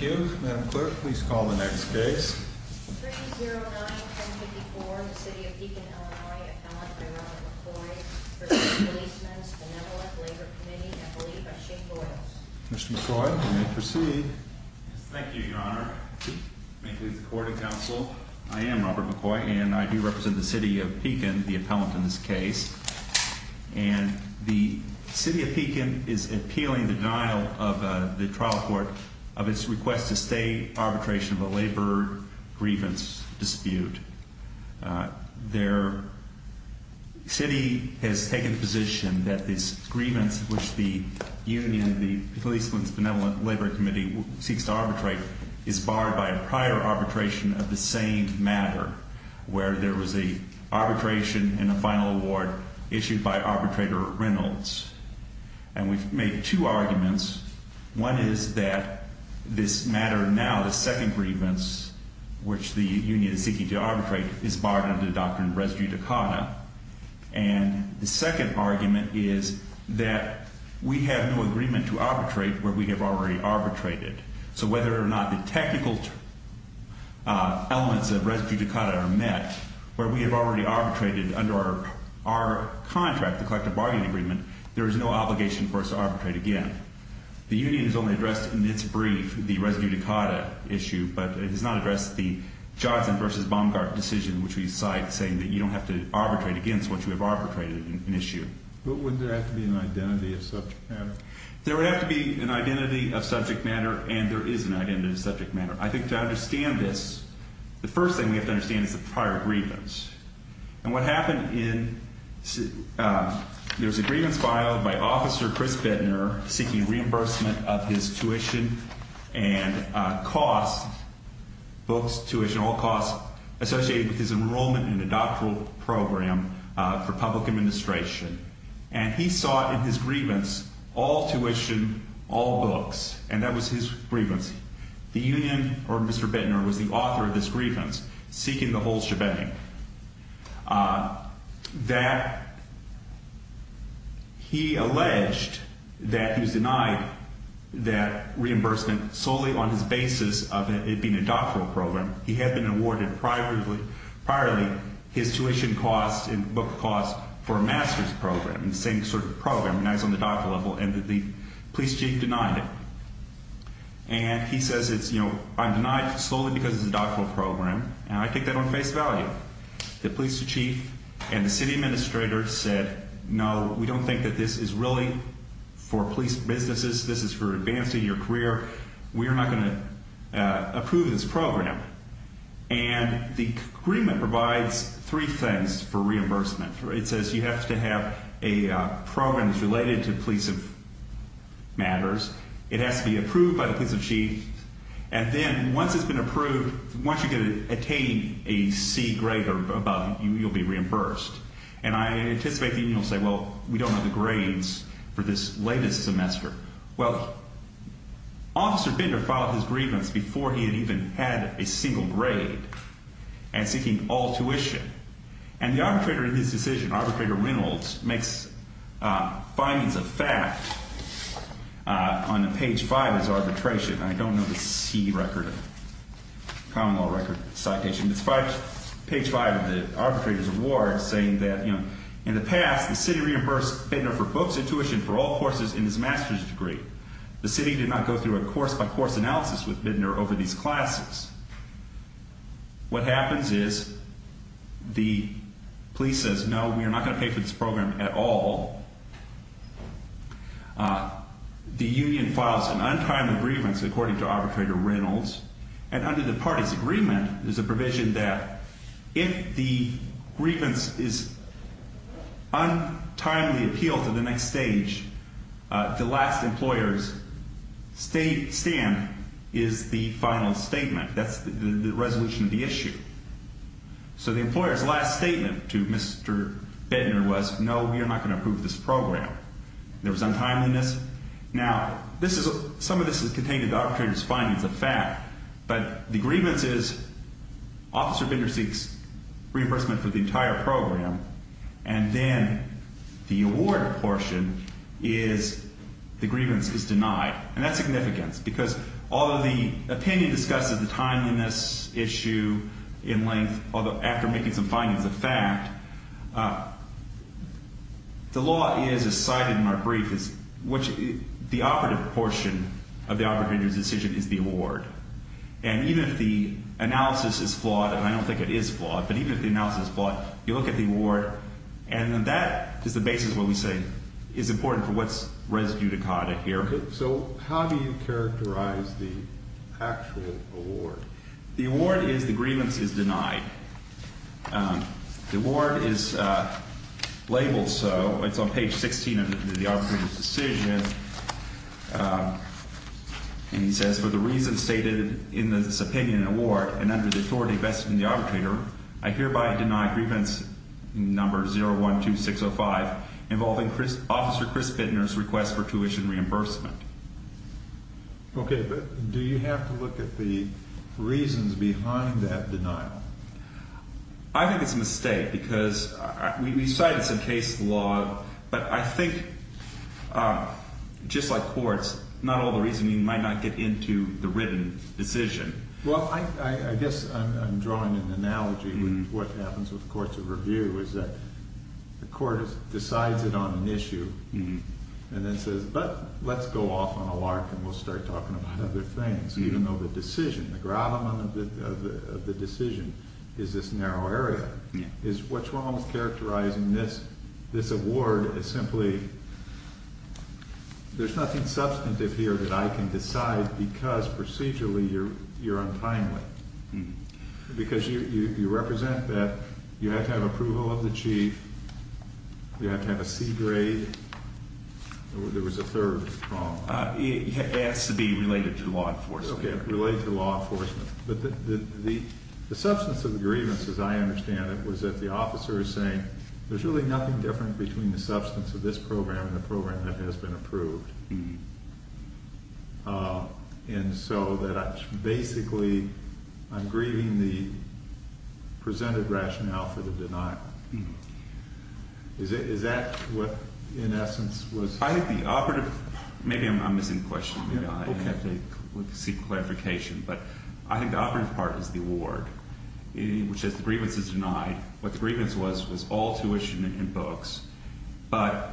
I am Robert McCoy and I do represent the City of Pekin, the appellant in this case, and the City of Pekin is appealing the denial of the trial court of its request to stay arbitration of a labor grievance dispute. The City has taken the position that this grievance which the union, the Policemen's Benevolent Labor Committee, seeks to arbitrate is barred by a prior arbitration of the same matter, where there was an arbitration and a final award issued by arbitrator Reynolds. And we've made two arguments. One is that this matter now, the second grievance, which the union is seeking to arbitrate, is barred under the doctrine of res judicata. And the second argument is that we have no agreement to arbitrate where we have already arbitrated. So whether or not the technical elements of res judicata are met, where we have already arbitrated under our contract, the collective bargaining agreement, there is no obligation for us to arbitrate again. The union has only addressed in its brief the res judicata issue, but it has not addressed the Johnson v. Baumgart decision which we cite saying that you don't have to arbitrate against what you have arbitrated in issue. But wouldn't there have to be an identity of subject matter? There would have to be an identity of subject matter, and there is an identity of subject matter. I think to understand this, the first thing we have to understand is the prior grievance. And what happened in – there was a grievance filed by Officer Chris Bittner seeking reimbursement of his tuition and costs, books, tuition, all costs associated with his enrollment in a doctoral program for public administration. And he sought in his grievance all tuition, all books. And that was his grievance. The union or Mr. Bittner was the author of this grievance seeking the whole shebang. That he alleged that he was denied that reimbursement solely on his basis of it being a doctoral program. He had been awarded priorly his tuition costs and book costs for a master's program, the same sort of program, and that was on the doctoral level, and the police chief denied it. And he says it's, you know, I'm denied solely because it's a doctoral program, and I take that on face value. The police chief and the city administrator said, no, we don't think that this is really for police businesses. This is for advancing your career. We are not going to approve this program. And the agreement provides three things for reimbursement. It says you have to have a program that's related to police matters. It has to be approved by the police chief. And then once it's been approved, once you can attain a C grade or above, you'll be reimbursed. And I anticipate the union will say, well, we don't have the grades for this latest semester. Well, Officer Bittner filed his grievance before he had even had a single grade and seeking all tuition. And the arbitrator in this decision, Arbitrator Reynolds, makes findings of fact on page five of his arbitration. I don't know the C record, common law record citation, but it's page five of the arbitrator's award saying that, you know, in the past, the city reimbursed Bittner for books and tuition for all courses in his master's degree. The city did not go through a course-by-course analysis with Bittner over these classes. What happens is the police says, no, we are not going to pay for this program at all. The union files an untimely grievance, according to Arbitrator Reynolds. And under the party's agreement, there's a provision that if the grievance is untimely appealed to the next stage, the last employer's stand is the final statement. That's the resolution of the issue. So the employer's last statement to Mr. Bittner was, no, we are not going to approve this program. There was untimeliness. Now, some of this is contained in the arbitrator's findings of fact. But the grievance is Officer Bittner seeks reimbursement for the entire program. And then the award portion is the grievance is denied. And that's significance, because although the opinion discusses the timeliness issue in length, although after making some findings of fact, the law is as cited in our brief, which the operative portion of the arbitrator's decision is the award. And even if the analysis is flawed, and I don't think it is flawed, but even if the analysis is flawed, you look at the award, and that is the basis of what we say is important for what's residue to codded here. So how do you characterize the actual award? The award is the grievance is denied. The award is labeled so. It's on page 16 of the arbitrator's decision. And he says, for the reasons stated in this opinion and award, and under the authority vested in the arbitrator, I hereby deny grievance number 012605 involving Officer Chris Bittner's request for tuition reimbursement. Okay. But do you have to look at the reasons behind that denial? I think it's a mistake, because we decided it's in case law, but I think just like courts, not all the reasoning might not get into the written decision. Well, I guess I'm drawing an analogy with what happens with courts of review, is that the court decides it on an issue and then says, but let's go off on a lark and we'll start talking about other things, even though the decision, the gravamen of the decision is this narrow area. What's wrong with characterizing this award as simply, there's nothing substantive here that I can decide because procedurally you're untimely. Because you represent that you have to have approval of the chief, you have to have a C grade. There was a third problem. It has to be related to law enforcement. Okay, related to law enforcement. But the substance of the grievance, as I understand it, was that the officer is saying, there's really nothing different between the substance of this program and the program that has been approved. And so that basically I'm grieving the presented rationale for the denial. Is that what, in essence, was? I think the operative, maybe I'm missing a question. We'll have to seek clarification. But I think the operative part is the award, which says the grievance is denied. What the grievance was, was all tuition and books. But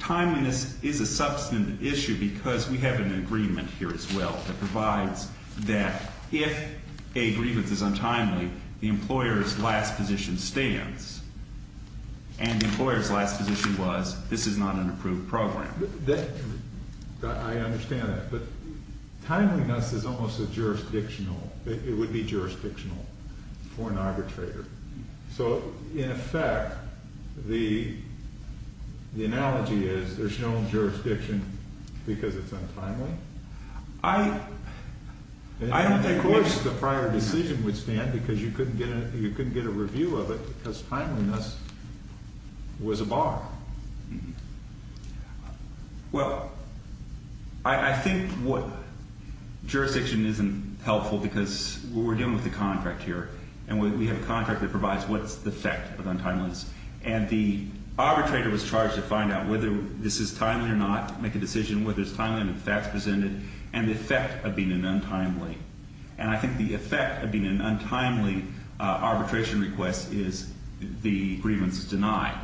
timeliness is a substantive issue because we have an agreement here as well that provides that if a grievance is untimely, the employer's last position stands. And the employer's last position was, this is not an approved program. I understand that. But timeliness is almost jurisdictional. It would be jurisdictional for an arbitrator. So, in effect, the analogy is there's no jurisdiction because it's untimely? I don't think the prior decision would stand because you couldn't get a review of it because timeliness was a bar. Well, I think what jurisdiction isn't helpful because we're dealing with a contract here. And we have a contract that provides what's the effect of untimeliness. And the arbitrator was charged to find out whether this is timely or not, make a decision whether it's timely or not if that's presented, and the effect of being an untimely. And I think the effect of being an untimely arbitration request is the grievance is denied.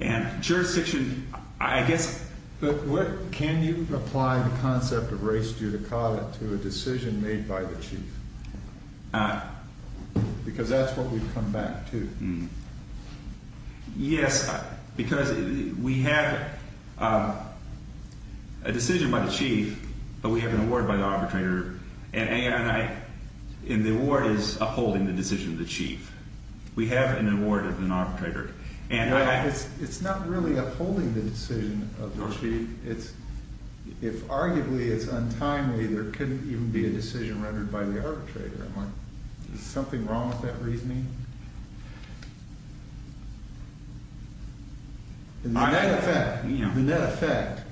And jurisdiction, I guess. But can you apply the concept of race judicata to a decision made by the chief? Because that's what we've come back to. Yes, because we have a decision by the chief, but we have an award by the arbitrator. And the award is upholding the decision of the chief. We have an award of an arbitrator. It's not really upholding the decision of the chief. If arguably it's untimely, there couldn't even be a decision rendered by the arbitrator. Is something wrong with that reasoning? In that effect,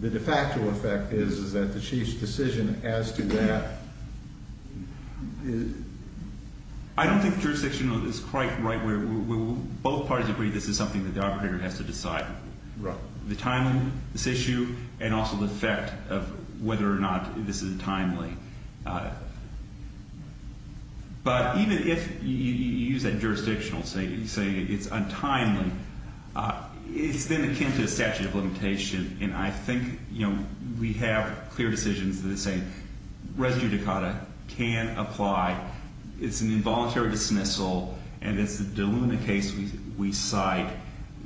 the de facto effect is that the chief's decision as to that. I don't think jurisdiction is quite right where both parties agree this is something that the arbitrator has to decide. The timing of this issue and also the effect of whether or not this is timely. But even if you use that jurisdictional, say it's untimely, it's then akin to a statute of limitation. And I think we have clear decisions that say race judicata can apply. It's an involuntary dismissal. And it's the de luna case we cite.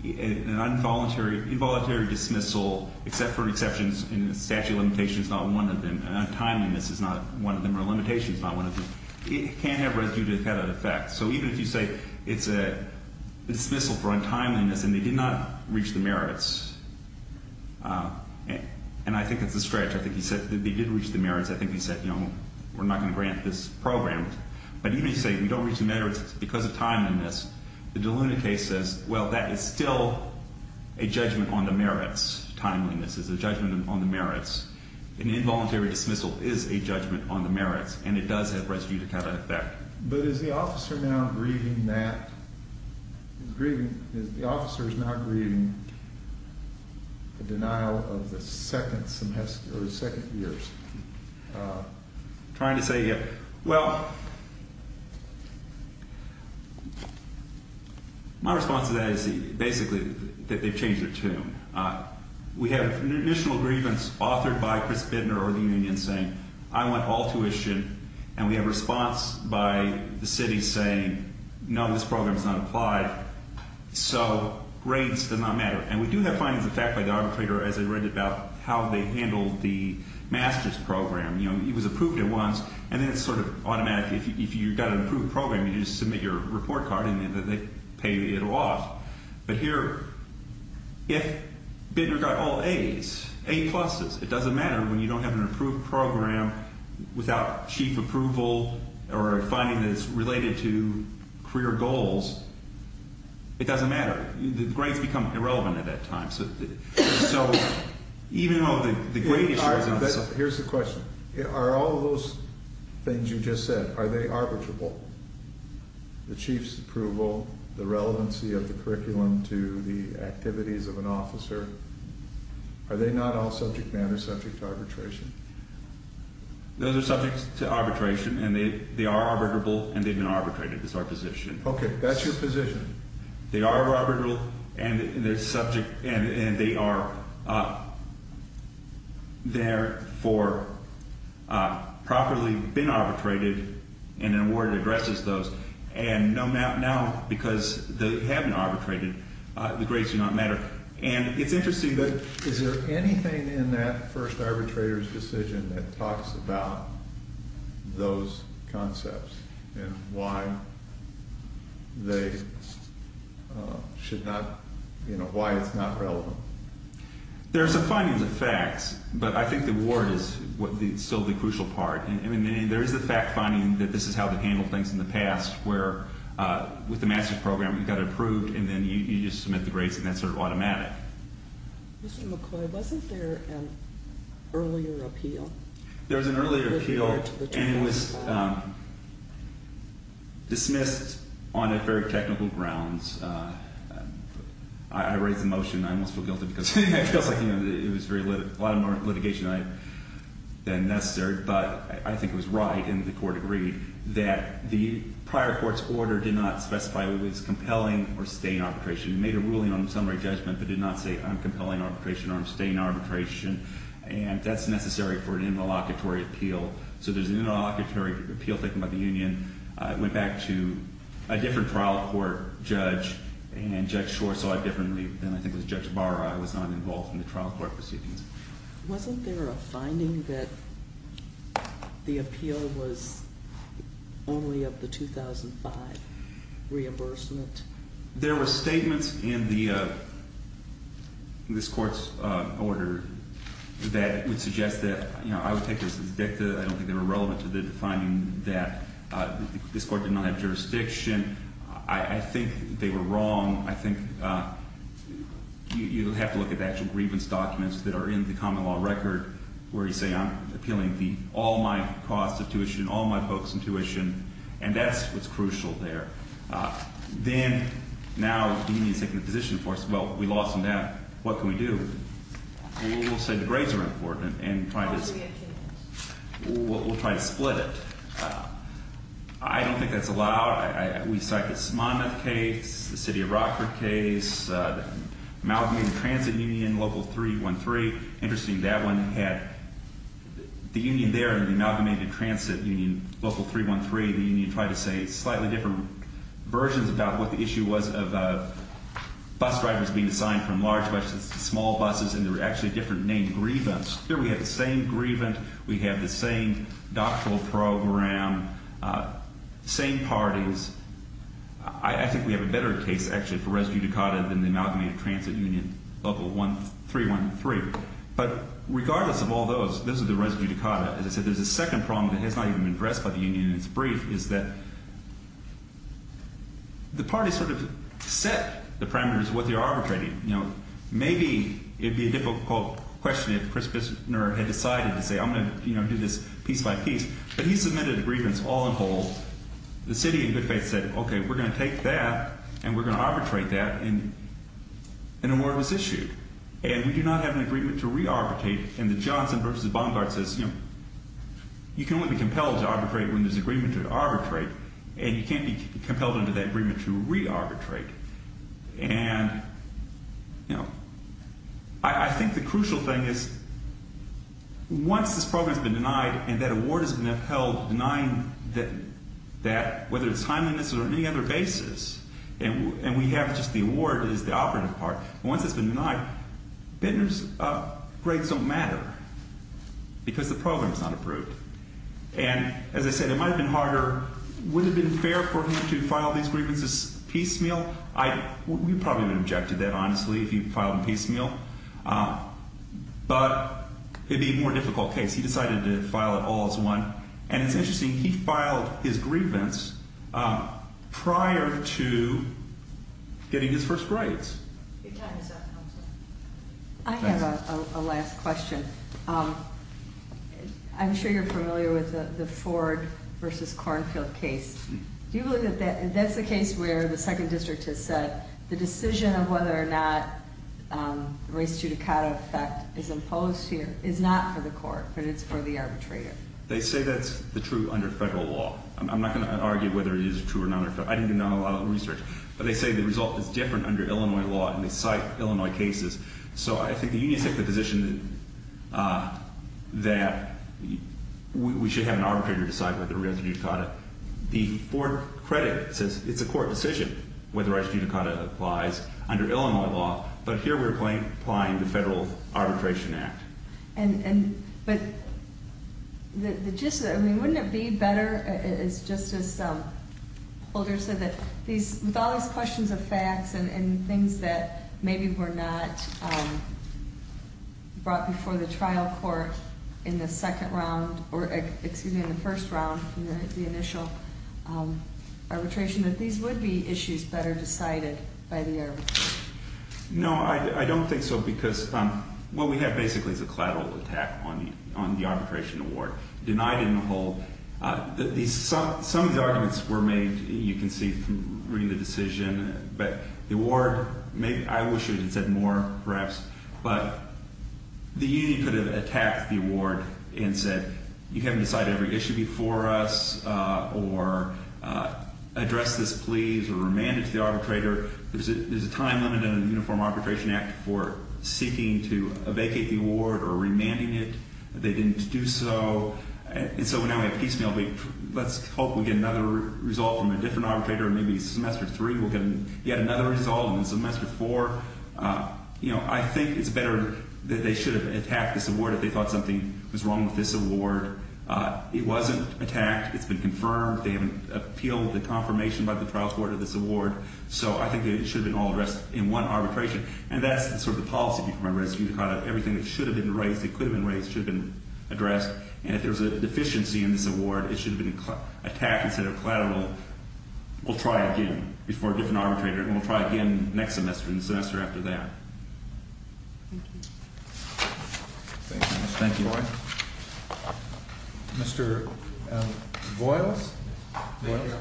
An involuntary dismissal, except for exceptions in the statute of limitation, is not one of them. And untimeliness is not one of them, or limitation is not one of them. It can have residue to the effect. So even if you say it's a dismissal for untimeliness and they did not reach the merits, and I think it's a stretch. I think he said they did reach the merits. I think he said, you know, we're not going to grant this program. But even if you say we don't reach the merits, it's because of timeliness. The de luna case says, well, that is still a judgment on the merits. Timeliness is a judgment on the merits. An involuntary dismissal is a judgment on the merits. And it does have residue to cata effect. But is the officer now grieving that? The officer is now grieving the denial of the second semester or the second years. I'm trying to say, well, my response to that is basically that they've changed their tune. We have an initial grievance authored by Chris Bidner or the union saying, I want all tuition. And we have a response by the city saying, no, this program is not applied. So grades do not matter. And we do have findings of fact by the arbitrator as I read about how they handled the master's program. You know, it was approved at once. And then it's sort of automatic. If you've got an approved program, you just submit your report card and they pay it off. But here, if Bidner got all As, A pluses, it doesn't matter when you don't have an approved program without chief approval or a finding that's related to career goals. It doesn't matter. The grades become irrelevant at that time. So even though the grade issue is not something. Here's the question. Are all of those things you just said, are they arbitrable? The chief's approval, the relevancy of the curriculum to the activities of an officer. Are they not all subject matter, subject to arbitration? Those are subject to arbitration and they are arbitrable and they've been arbitrated. That's our position. Okay. That's your position. They are arbitrable and they are, therefore, properly been arbitrated and an award addresses those. And now, because they have been arbitrated, the grades do not matter. And it's interesting, but is there anything in that first arbitrator's decision that talks about those concepts and why they should not, you know, why it's not relevant? There are some findings and facts, but I think the award is still the crucial part. I mean, there is the fact finding that this is how they handled things in the past, where with the master's program you got it approved and then you just submit the grades and that's sort of automatic. Mr. McCoy, wasn't there an earlier appeal? There was an earlier appeal and it was dismissed on a very technical grounds. I raise the motion. I almost feel guilty because I feel like it was a lot more litigation than necessary, but I think it was right and the court agreed that the prior court's order did not specify it was compelling or staying arbitration. It made a ruling on the summary judgment but did not say I'm compelling arbitration or I'm staying arbitration. And that's necessary for an interlocutory appeal. So there's an interlocutory appeal taken by the union. It went back to a different trial court judge and Judge Schwartz saw it differently than I think it was Judge Barra. It was not involved in the trial court proceedings. Wasn't there a finding that the appeal was only of the 2005 reimbursement? There were statements in this court's order that would suggest that I would take this as a dicta. I don't think they were relevant to the finding that this court did not have jurisdiction. I think they were wrong. I think you have to look at the actual grievance documents that are in the common law record where you say I'm appealing all my costs of tuition, all my folks in tuition, and that's what's crucial there. Then now the union is taking a position for us. Well, we lost them down. What can we do? We'll say the grades are important and try to split it. I don't think that's allowed. We cite the Smona case, the City of Rockford case, the Amalgamated Transit Union Local 313. Interesting that one had the union there and the Amalgamated Transit Union Local 313. The union tried to say slightly different versions about what the issue was of bus drivers being assigned from large buses to small buses, and there were actually different named grievance. Here we have the same grievance. We have the same doctoral program, same parties. I think we have a better case, actually, for res judicata than the Amalgamated Transit Union Local 313. But regardless of all those, this is the res judicata. As I said, there's a second problem that has not even been addressed by the union, and it's brief, is that the parties sort of set the parameters of what they're arbitrating. Maybe it would be a difficult question if Chris Bissner had decided to say, I'm going to do this piece by piece. But he submitted a grievance all in whole. The city, in good faith, said, okay, we're going to take that, and we're going to arbitrate that, and an award was issued. And we do not have an agreement to re-arbitrate. And the Johnson v. Bongard says, you know, you can only be compelled to arbitrate when there's agreement to arbitrate, and you can't be compelled under that agreement to re-arbitrate. And, you know, I think the crucial thing is once this program has been denied and that award has been upheld denying that, whether it's timeliness or any other basis, and we have just the award as the operative part. Once it's been denied, Bissner's grades don't matter because the program is not approved. And, as I said, it might have been harder. Would it have been fair for him to file these grievances piecemeal? We probably would have objected to that, honestly, if he filed them piecemeal. But it would be a more difficult case. He decided to file it all as one. And it's interesting. He filed his grievance prior to getting his first grades. I have a last question. I'm sure you're familiar with the Ford v. Cornfield case. Do you believe that that's the case where the second district has said the decision of whether or not race judicata effect is imposed here is not for the court, but it's for the arbitrator? They say that's the truth under federal law. I'm not going to argue whether it is true or not. I didn't do a lot of research. But they say the result is different under Illinois law, and they cite Illinois cases. So I think the unions take the position that we should have an arbitrator decide whether race judicata. The Ford credit says it's a court decision whether race judicata applies under Illinois law. But here we're applying the Federal Arbitration Act. But wouldn't it be better, as Justice Holder said, with all these questions of facts and things that maybe were not brought before the trial court in the first round, the initial arbitration, that these would be issues better decided by the arbitrator? No, I don't think so, because what we have basically is a collateral attack on the arbitration award. Denied in the whole. Some of the arguments were made, you can see from reading the decision. But the award, I wish it had said more, perhaps. But the union could have attacked the award and said, you haven't decided every issue before us, or address this, please, or remand it to the arbitrator. There's a time limit under the Uniform Arbitration Act for seeking to vacate the award or remanding it. They didn't do so. And so now we have piecemeal. Let's hope we get another result from a different arbitrator in maybe semester three. We'll get yet another result in semester four. You know, I think it's better that they should have attacked this award if they thought something was wrong with this award. It wasn't attacked. It's been confirmed. They haven't appealed the confirmation by the trial court of this award. So I think it should have been all addressed in one arbitration. And that's sort of the policy, if you remember. Everything that should have been raised, that could have been raised, should have been addressed. And if there was a deficiency in this award, it should have been attacked instead of collateral. We'll try again before a different arbitrator. And we'll try again next semester and the semester after that. Thank you. Thank you, Mr. Boyd. Mr. Boyles? Mr. Boyles?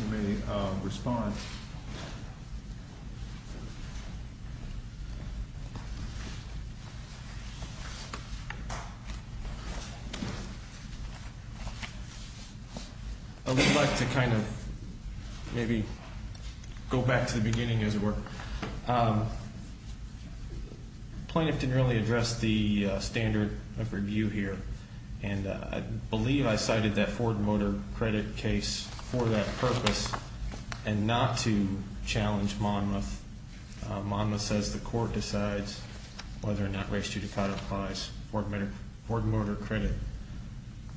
You may respond. I would like to kind of maybe go back to the beginning as it were. Plaintiff didn't really address the standard of review here. And I believe I cited that Ford Motor Credit case for that purpose and not to challenge Monmouth. Monmouth says the court decides whether or not race judicata applies. Ford Motor Credit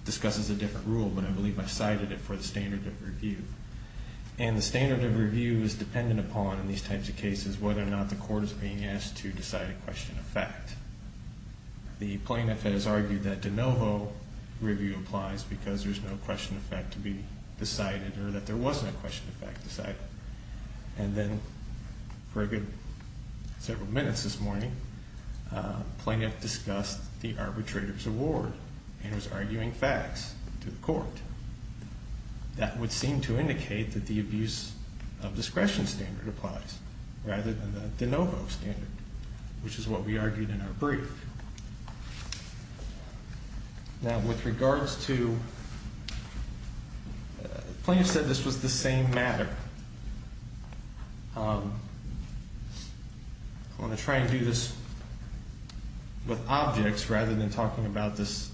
discusses a different rule, but I believe I cited it for the standard of review. And the standard of review is dependent upon, in these types of cases, whether or not the court is being asked to decide a question of fact. The plaintiff has argued that de novo review applies because there's no question of fact to be decided or that there was no question of fact decided. And then for a good several minutes this morning, plaintiff discussed the arbitrator's award and was arguing facts to the court. That would seem to indicate that the abuse of discretion standard applies rather than the de novo standard, which is what we argued in our brief. Now, with regards to, plaintiff said this was the same matter. I'm going to try and do this with objects rather than talking about this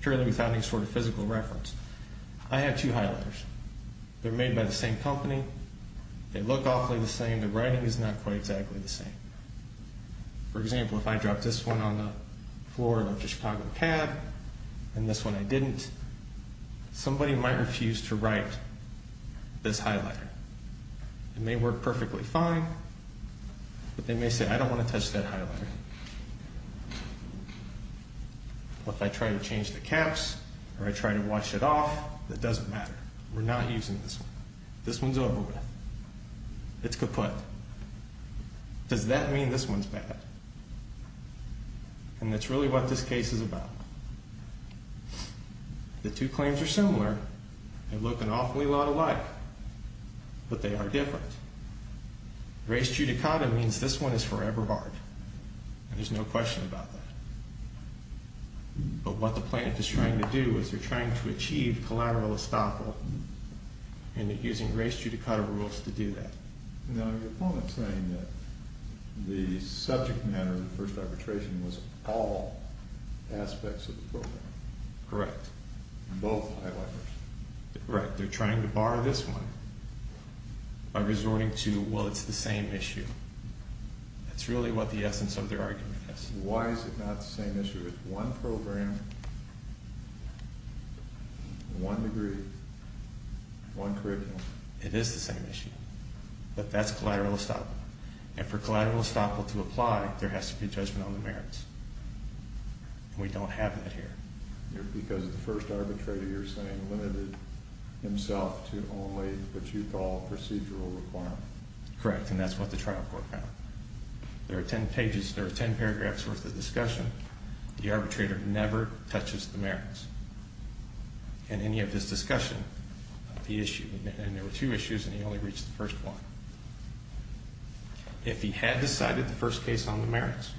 purely without any sort of physical reference. I have two highlighters. They're made by the same company. They look awfully the same. The writing is not quite exactly the same. For example, if I dropped this one on the floor of the Chicago cab and this one I didn't, somebody might refuse to write this highlighter. It may work perfectly fine, but they may say, I don't want to touch that highlighter. If I try to change the caps or I try to wash it off, it doesn't matter. We're not using this one. This one's over with. It's kaput. Does that mean this one's bad? And that's really what this case is about. The two claims are similar. They look an awfully lot alike, but they are different. Res judicata means this one is forever hard, and there's no question about that. But what the plaintiff is trying to do is they're trying to achieve collateral estoppel and they're using res judicata rules to do that. Now, your opponent's saying that the subject matter of the first arbitration was all aspects of the program. Correct. Both highlighters. Correct. They're trying to bar this one by resorting to, well, it's the same issue. That's really what the essence of their argument is. Why is it not the same issue? It's one program, one degree, one curriculum. It is the same issue, but that's collateral estoppel. And for collateral estoppel to apply, there has to be a judgment on the merits. We don't have that here. Because the first arbitrator, you're saying, limited himself to only what you call procedural requirement. Correct, and that's what the trial court found. There are ten pages, there are ten paragraphs worth of discussion. The arbitrator never touches the merits in any of his discussion of the issue. And there were two issues and he only reached the first one. If he had decided the first case on the merits,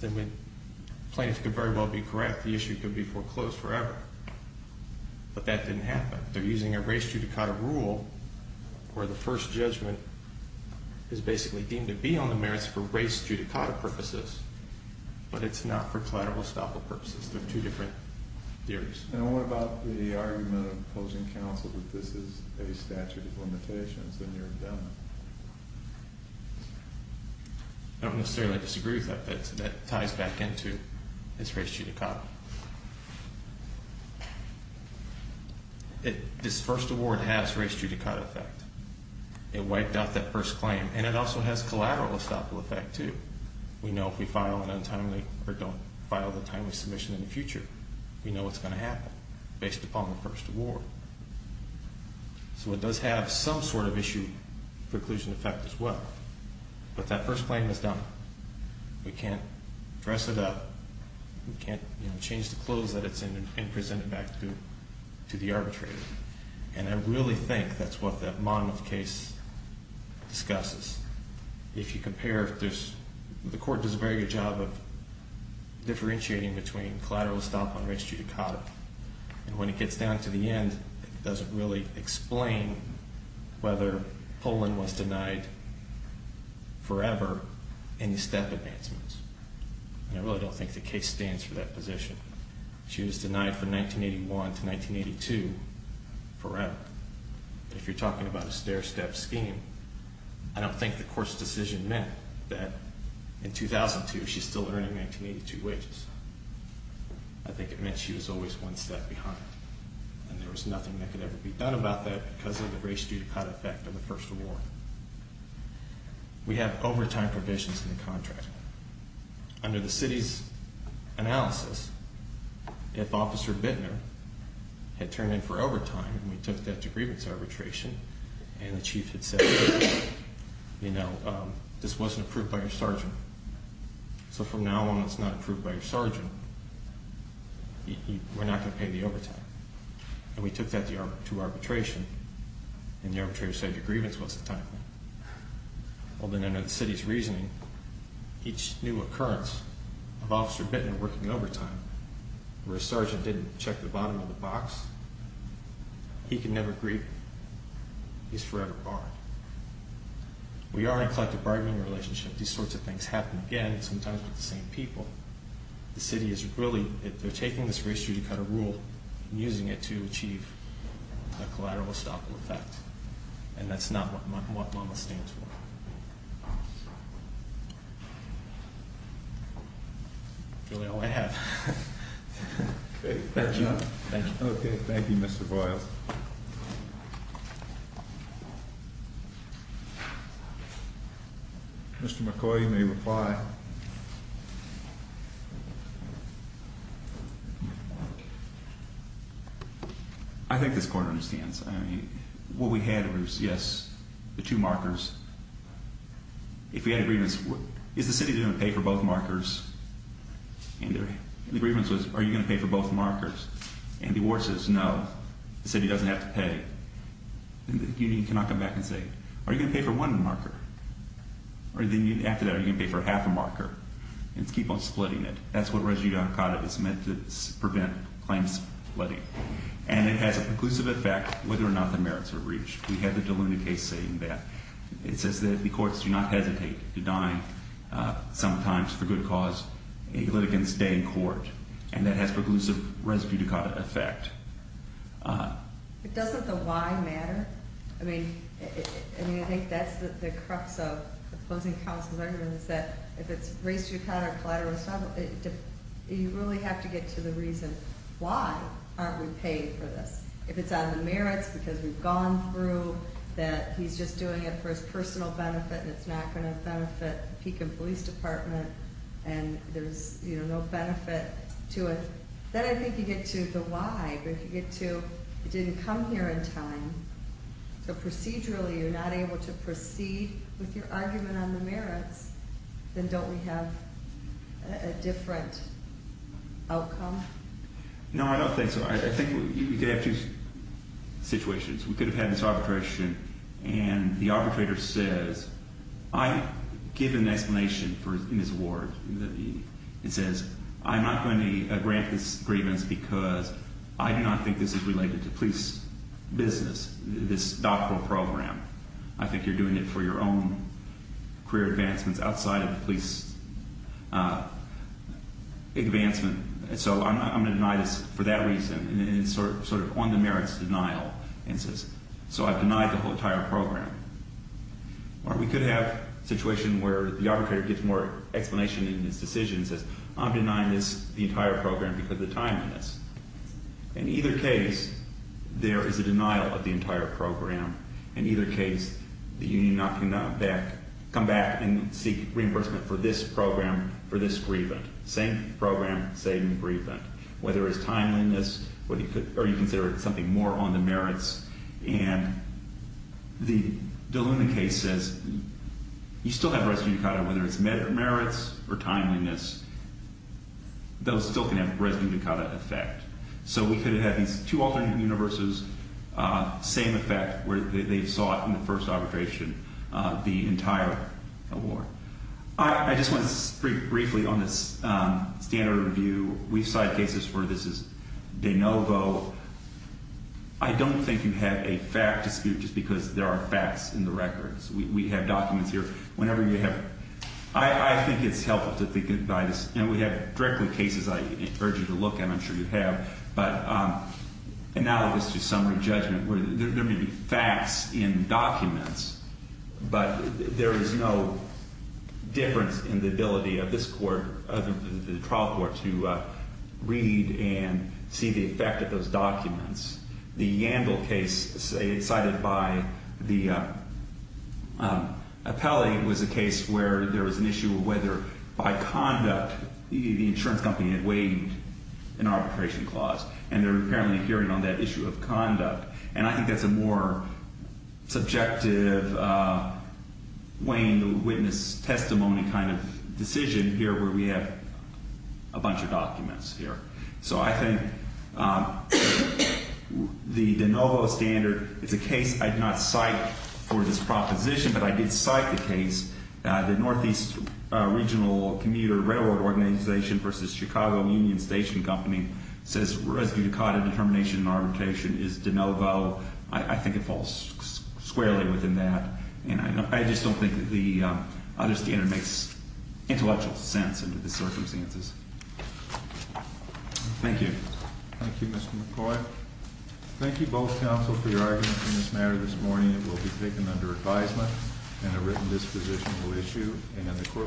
then the plaintiff could very well be correct. The issue could be foreclosed forever. But that didn't happen. They're using a res judicata rule where the first judgment is basically deemed to be on the merits for res judicata purposes. But it's not for collateral estoppel purposes. They're two different theories. And what about the argument of opposing counsel that this is a statute of limitations in your indentment? I don't necessarily disagree with that, but that ties back into his res judicata. This first award has res judicata effect. It wiped out that first claim. And it also has collateral estoppel effect, too. We know if we file an untimely or don't file the timely submission in the future, we know what's going to happen based upon the first award. So it does have some sort of issue preclusion effect as well. But that first claim is done. We can't dress it up. We can't change the clothes that it's in and present it back to the arbitrator. And I really think that's what that Monmouth case discusses. If you compare, the court does a very good job of differentiating between collateral estoppel and res judicata. And when it gets down to the end, it doesn't really explain whether Poland was denied forever any step advancements. And I really don't think the case stands for that position. She was denied from 1981 to 1982 forever. If you're talking about a stair-step scheme, I don't think the court's decision meant that in 2002 she's still earning 1982 wages. I think it meant she was always one step behind. And there was nothing that could ever be done about that because of the res judicata effect of the first award. We have overtime provisions in the contract. Under the city's analysis, if Officer Bittner had turned in for overtime and we took that to grievance arbitration, and the chief had said, you know, this wasn't approved by your sergeant, so from now on it's not approved by your sergeant, we're not going to pay the overtime. And we took that to arbitration, and the arbitrator said to grievance, what's the time? Well, then under the city's reasoning, each new occurrence of Officer Bittner working overtime, where a sergeant didn't check the bottom of the box, he can never grieve. He's forever barred. We are in a collective bargaining relationship. These sorts of things happen again, sometimes with the same people. The city is really, they're taking this res judicata rule and using it to achieve a collateral estoppel effect. And that's not what MAMA stands for. That's really all I have. Thank you. Okay, thank you, Mr. Boyle. Mr. McCoy, you may reply. Thank you. I think this Court understands. I mean, what we had was, yes, the two markers. If we had a grievance, is the city going to pay for both markers? And the grievance was, are you going to pay for both markers? And the ward says, no, the city doesn't have to pay. And the union cannot come back and say, are you going to pay for one marker? After that, are you going to pay for half a marker? And keep on splitting it. That's what res judicata is meant to prevent claims splitting. And it has a preclusive effect whether or not the merits are reached. We had the Deluna case saying that. It says that the courts do not hesitate to deny, sometimes for good cause, a litigant's stay in court. And that has preclusive res judicata effect. But doesn't the why matter? I mean, I think that's the crux of opposing counsel's argument is that if it's res judicata or collateral, you really have to get to the reason why aren't we paying for this. If it's out of the merits because we've gone through that he's just doing it for his personal benefit and it's not going to benefit the Pekin Police Department and there's no benefit to it, then I think you get to the why. But if you get to it didn't come here in time, so procedurally you're not able to proceed with your argument on the merits, then don't we have a different outcome? No, I don't think so. I think you could have two situations. We could have had this arbitration and the arbitrator says, I give an explanation in his award. It says, I'm not going to grant this grievance because I do not think this is related to police business, this doctoral program. I think you're doing it for your own career advancements outside of the police advancement. So I'm going to deny this for that reason. And it's sort of on the merits denial. And it says, so I've denied the whole entire program. Or we could have a situation where the arbitrator gets more explanation in his decision and says, I'm denying this, the entire program, because of the timeliness. In either case, there is a denial of the entire program. In either case, the union cannot come back and seek reimbursement for this program for this grievance. Same program, same grievance. Whether it's timeliness or you consider it something more on the merits and the DeLuna case says, you still have res judicata, whether it's merits or timeliness. Those still can have res judicata effect. So we could have had these two alternate universes, same effect, where they saw it in the first arbitration, the entire award. I just want to speak briefly on this standard review. We've cited cases where this is de novo. I don't think you have a fact dispute just because there are facts in the records. We have documents here. Whenever you have ‑‑ I think it's helpful to think about this. And we have directly cases I urge you to look at. I'm sure you have. But analogous to summary judgment, there may be facts in documents, but there is no difference in the ability of this court, of the trial court, to read and see the effect of those documents. The Yandel case cited by the appellee was a case where there was an issue of whether, by conduct, the insurance company had waived an arbitration clause, and they're apparently hearing on that issue of conduct. And I think that's a more subjective weighing the witness testimony kind of decision here where we have a bunch of documents here. So I think the de novo standard is a case I did not cite for this proposition, but I did cite the case. The Northeast Regional Commuter Railroad Organization versus Chicago Union Station Company says residue caught in determination and arbitration is de novo. I think it falls squarely within that. And I just don't think the other standard makes intellectual sense under the circumstances. Thank you. Thank you, Mr. McCoy. Thank you, both counsel, for your arguments in this matter this morning. It will be taken under advisement and a written disposition will issue and the court will stand adjourned.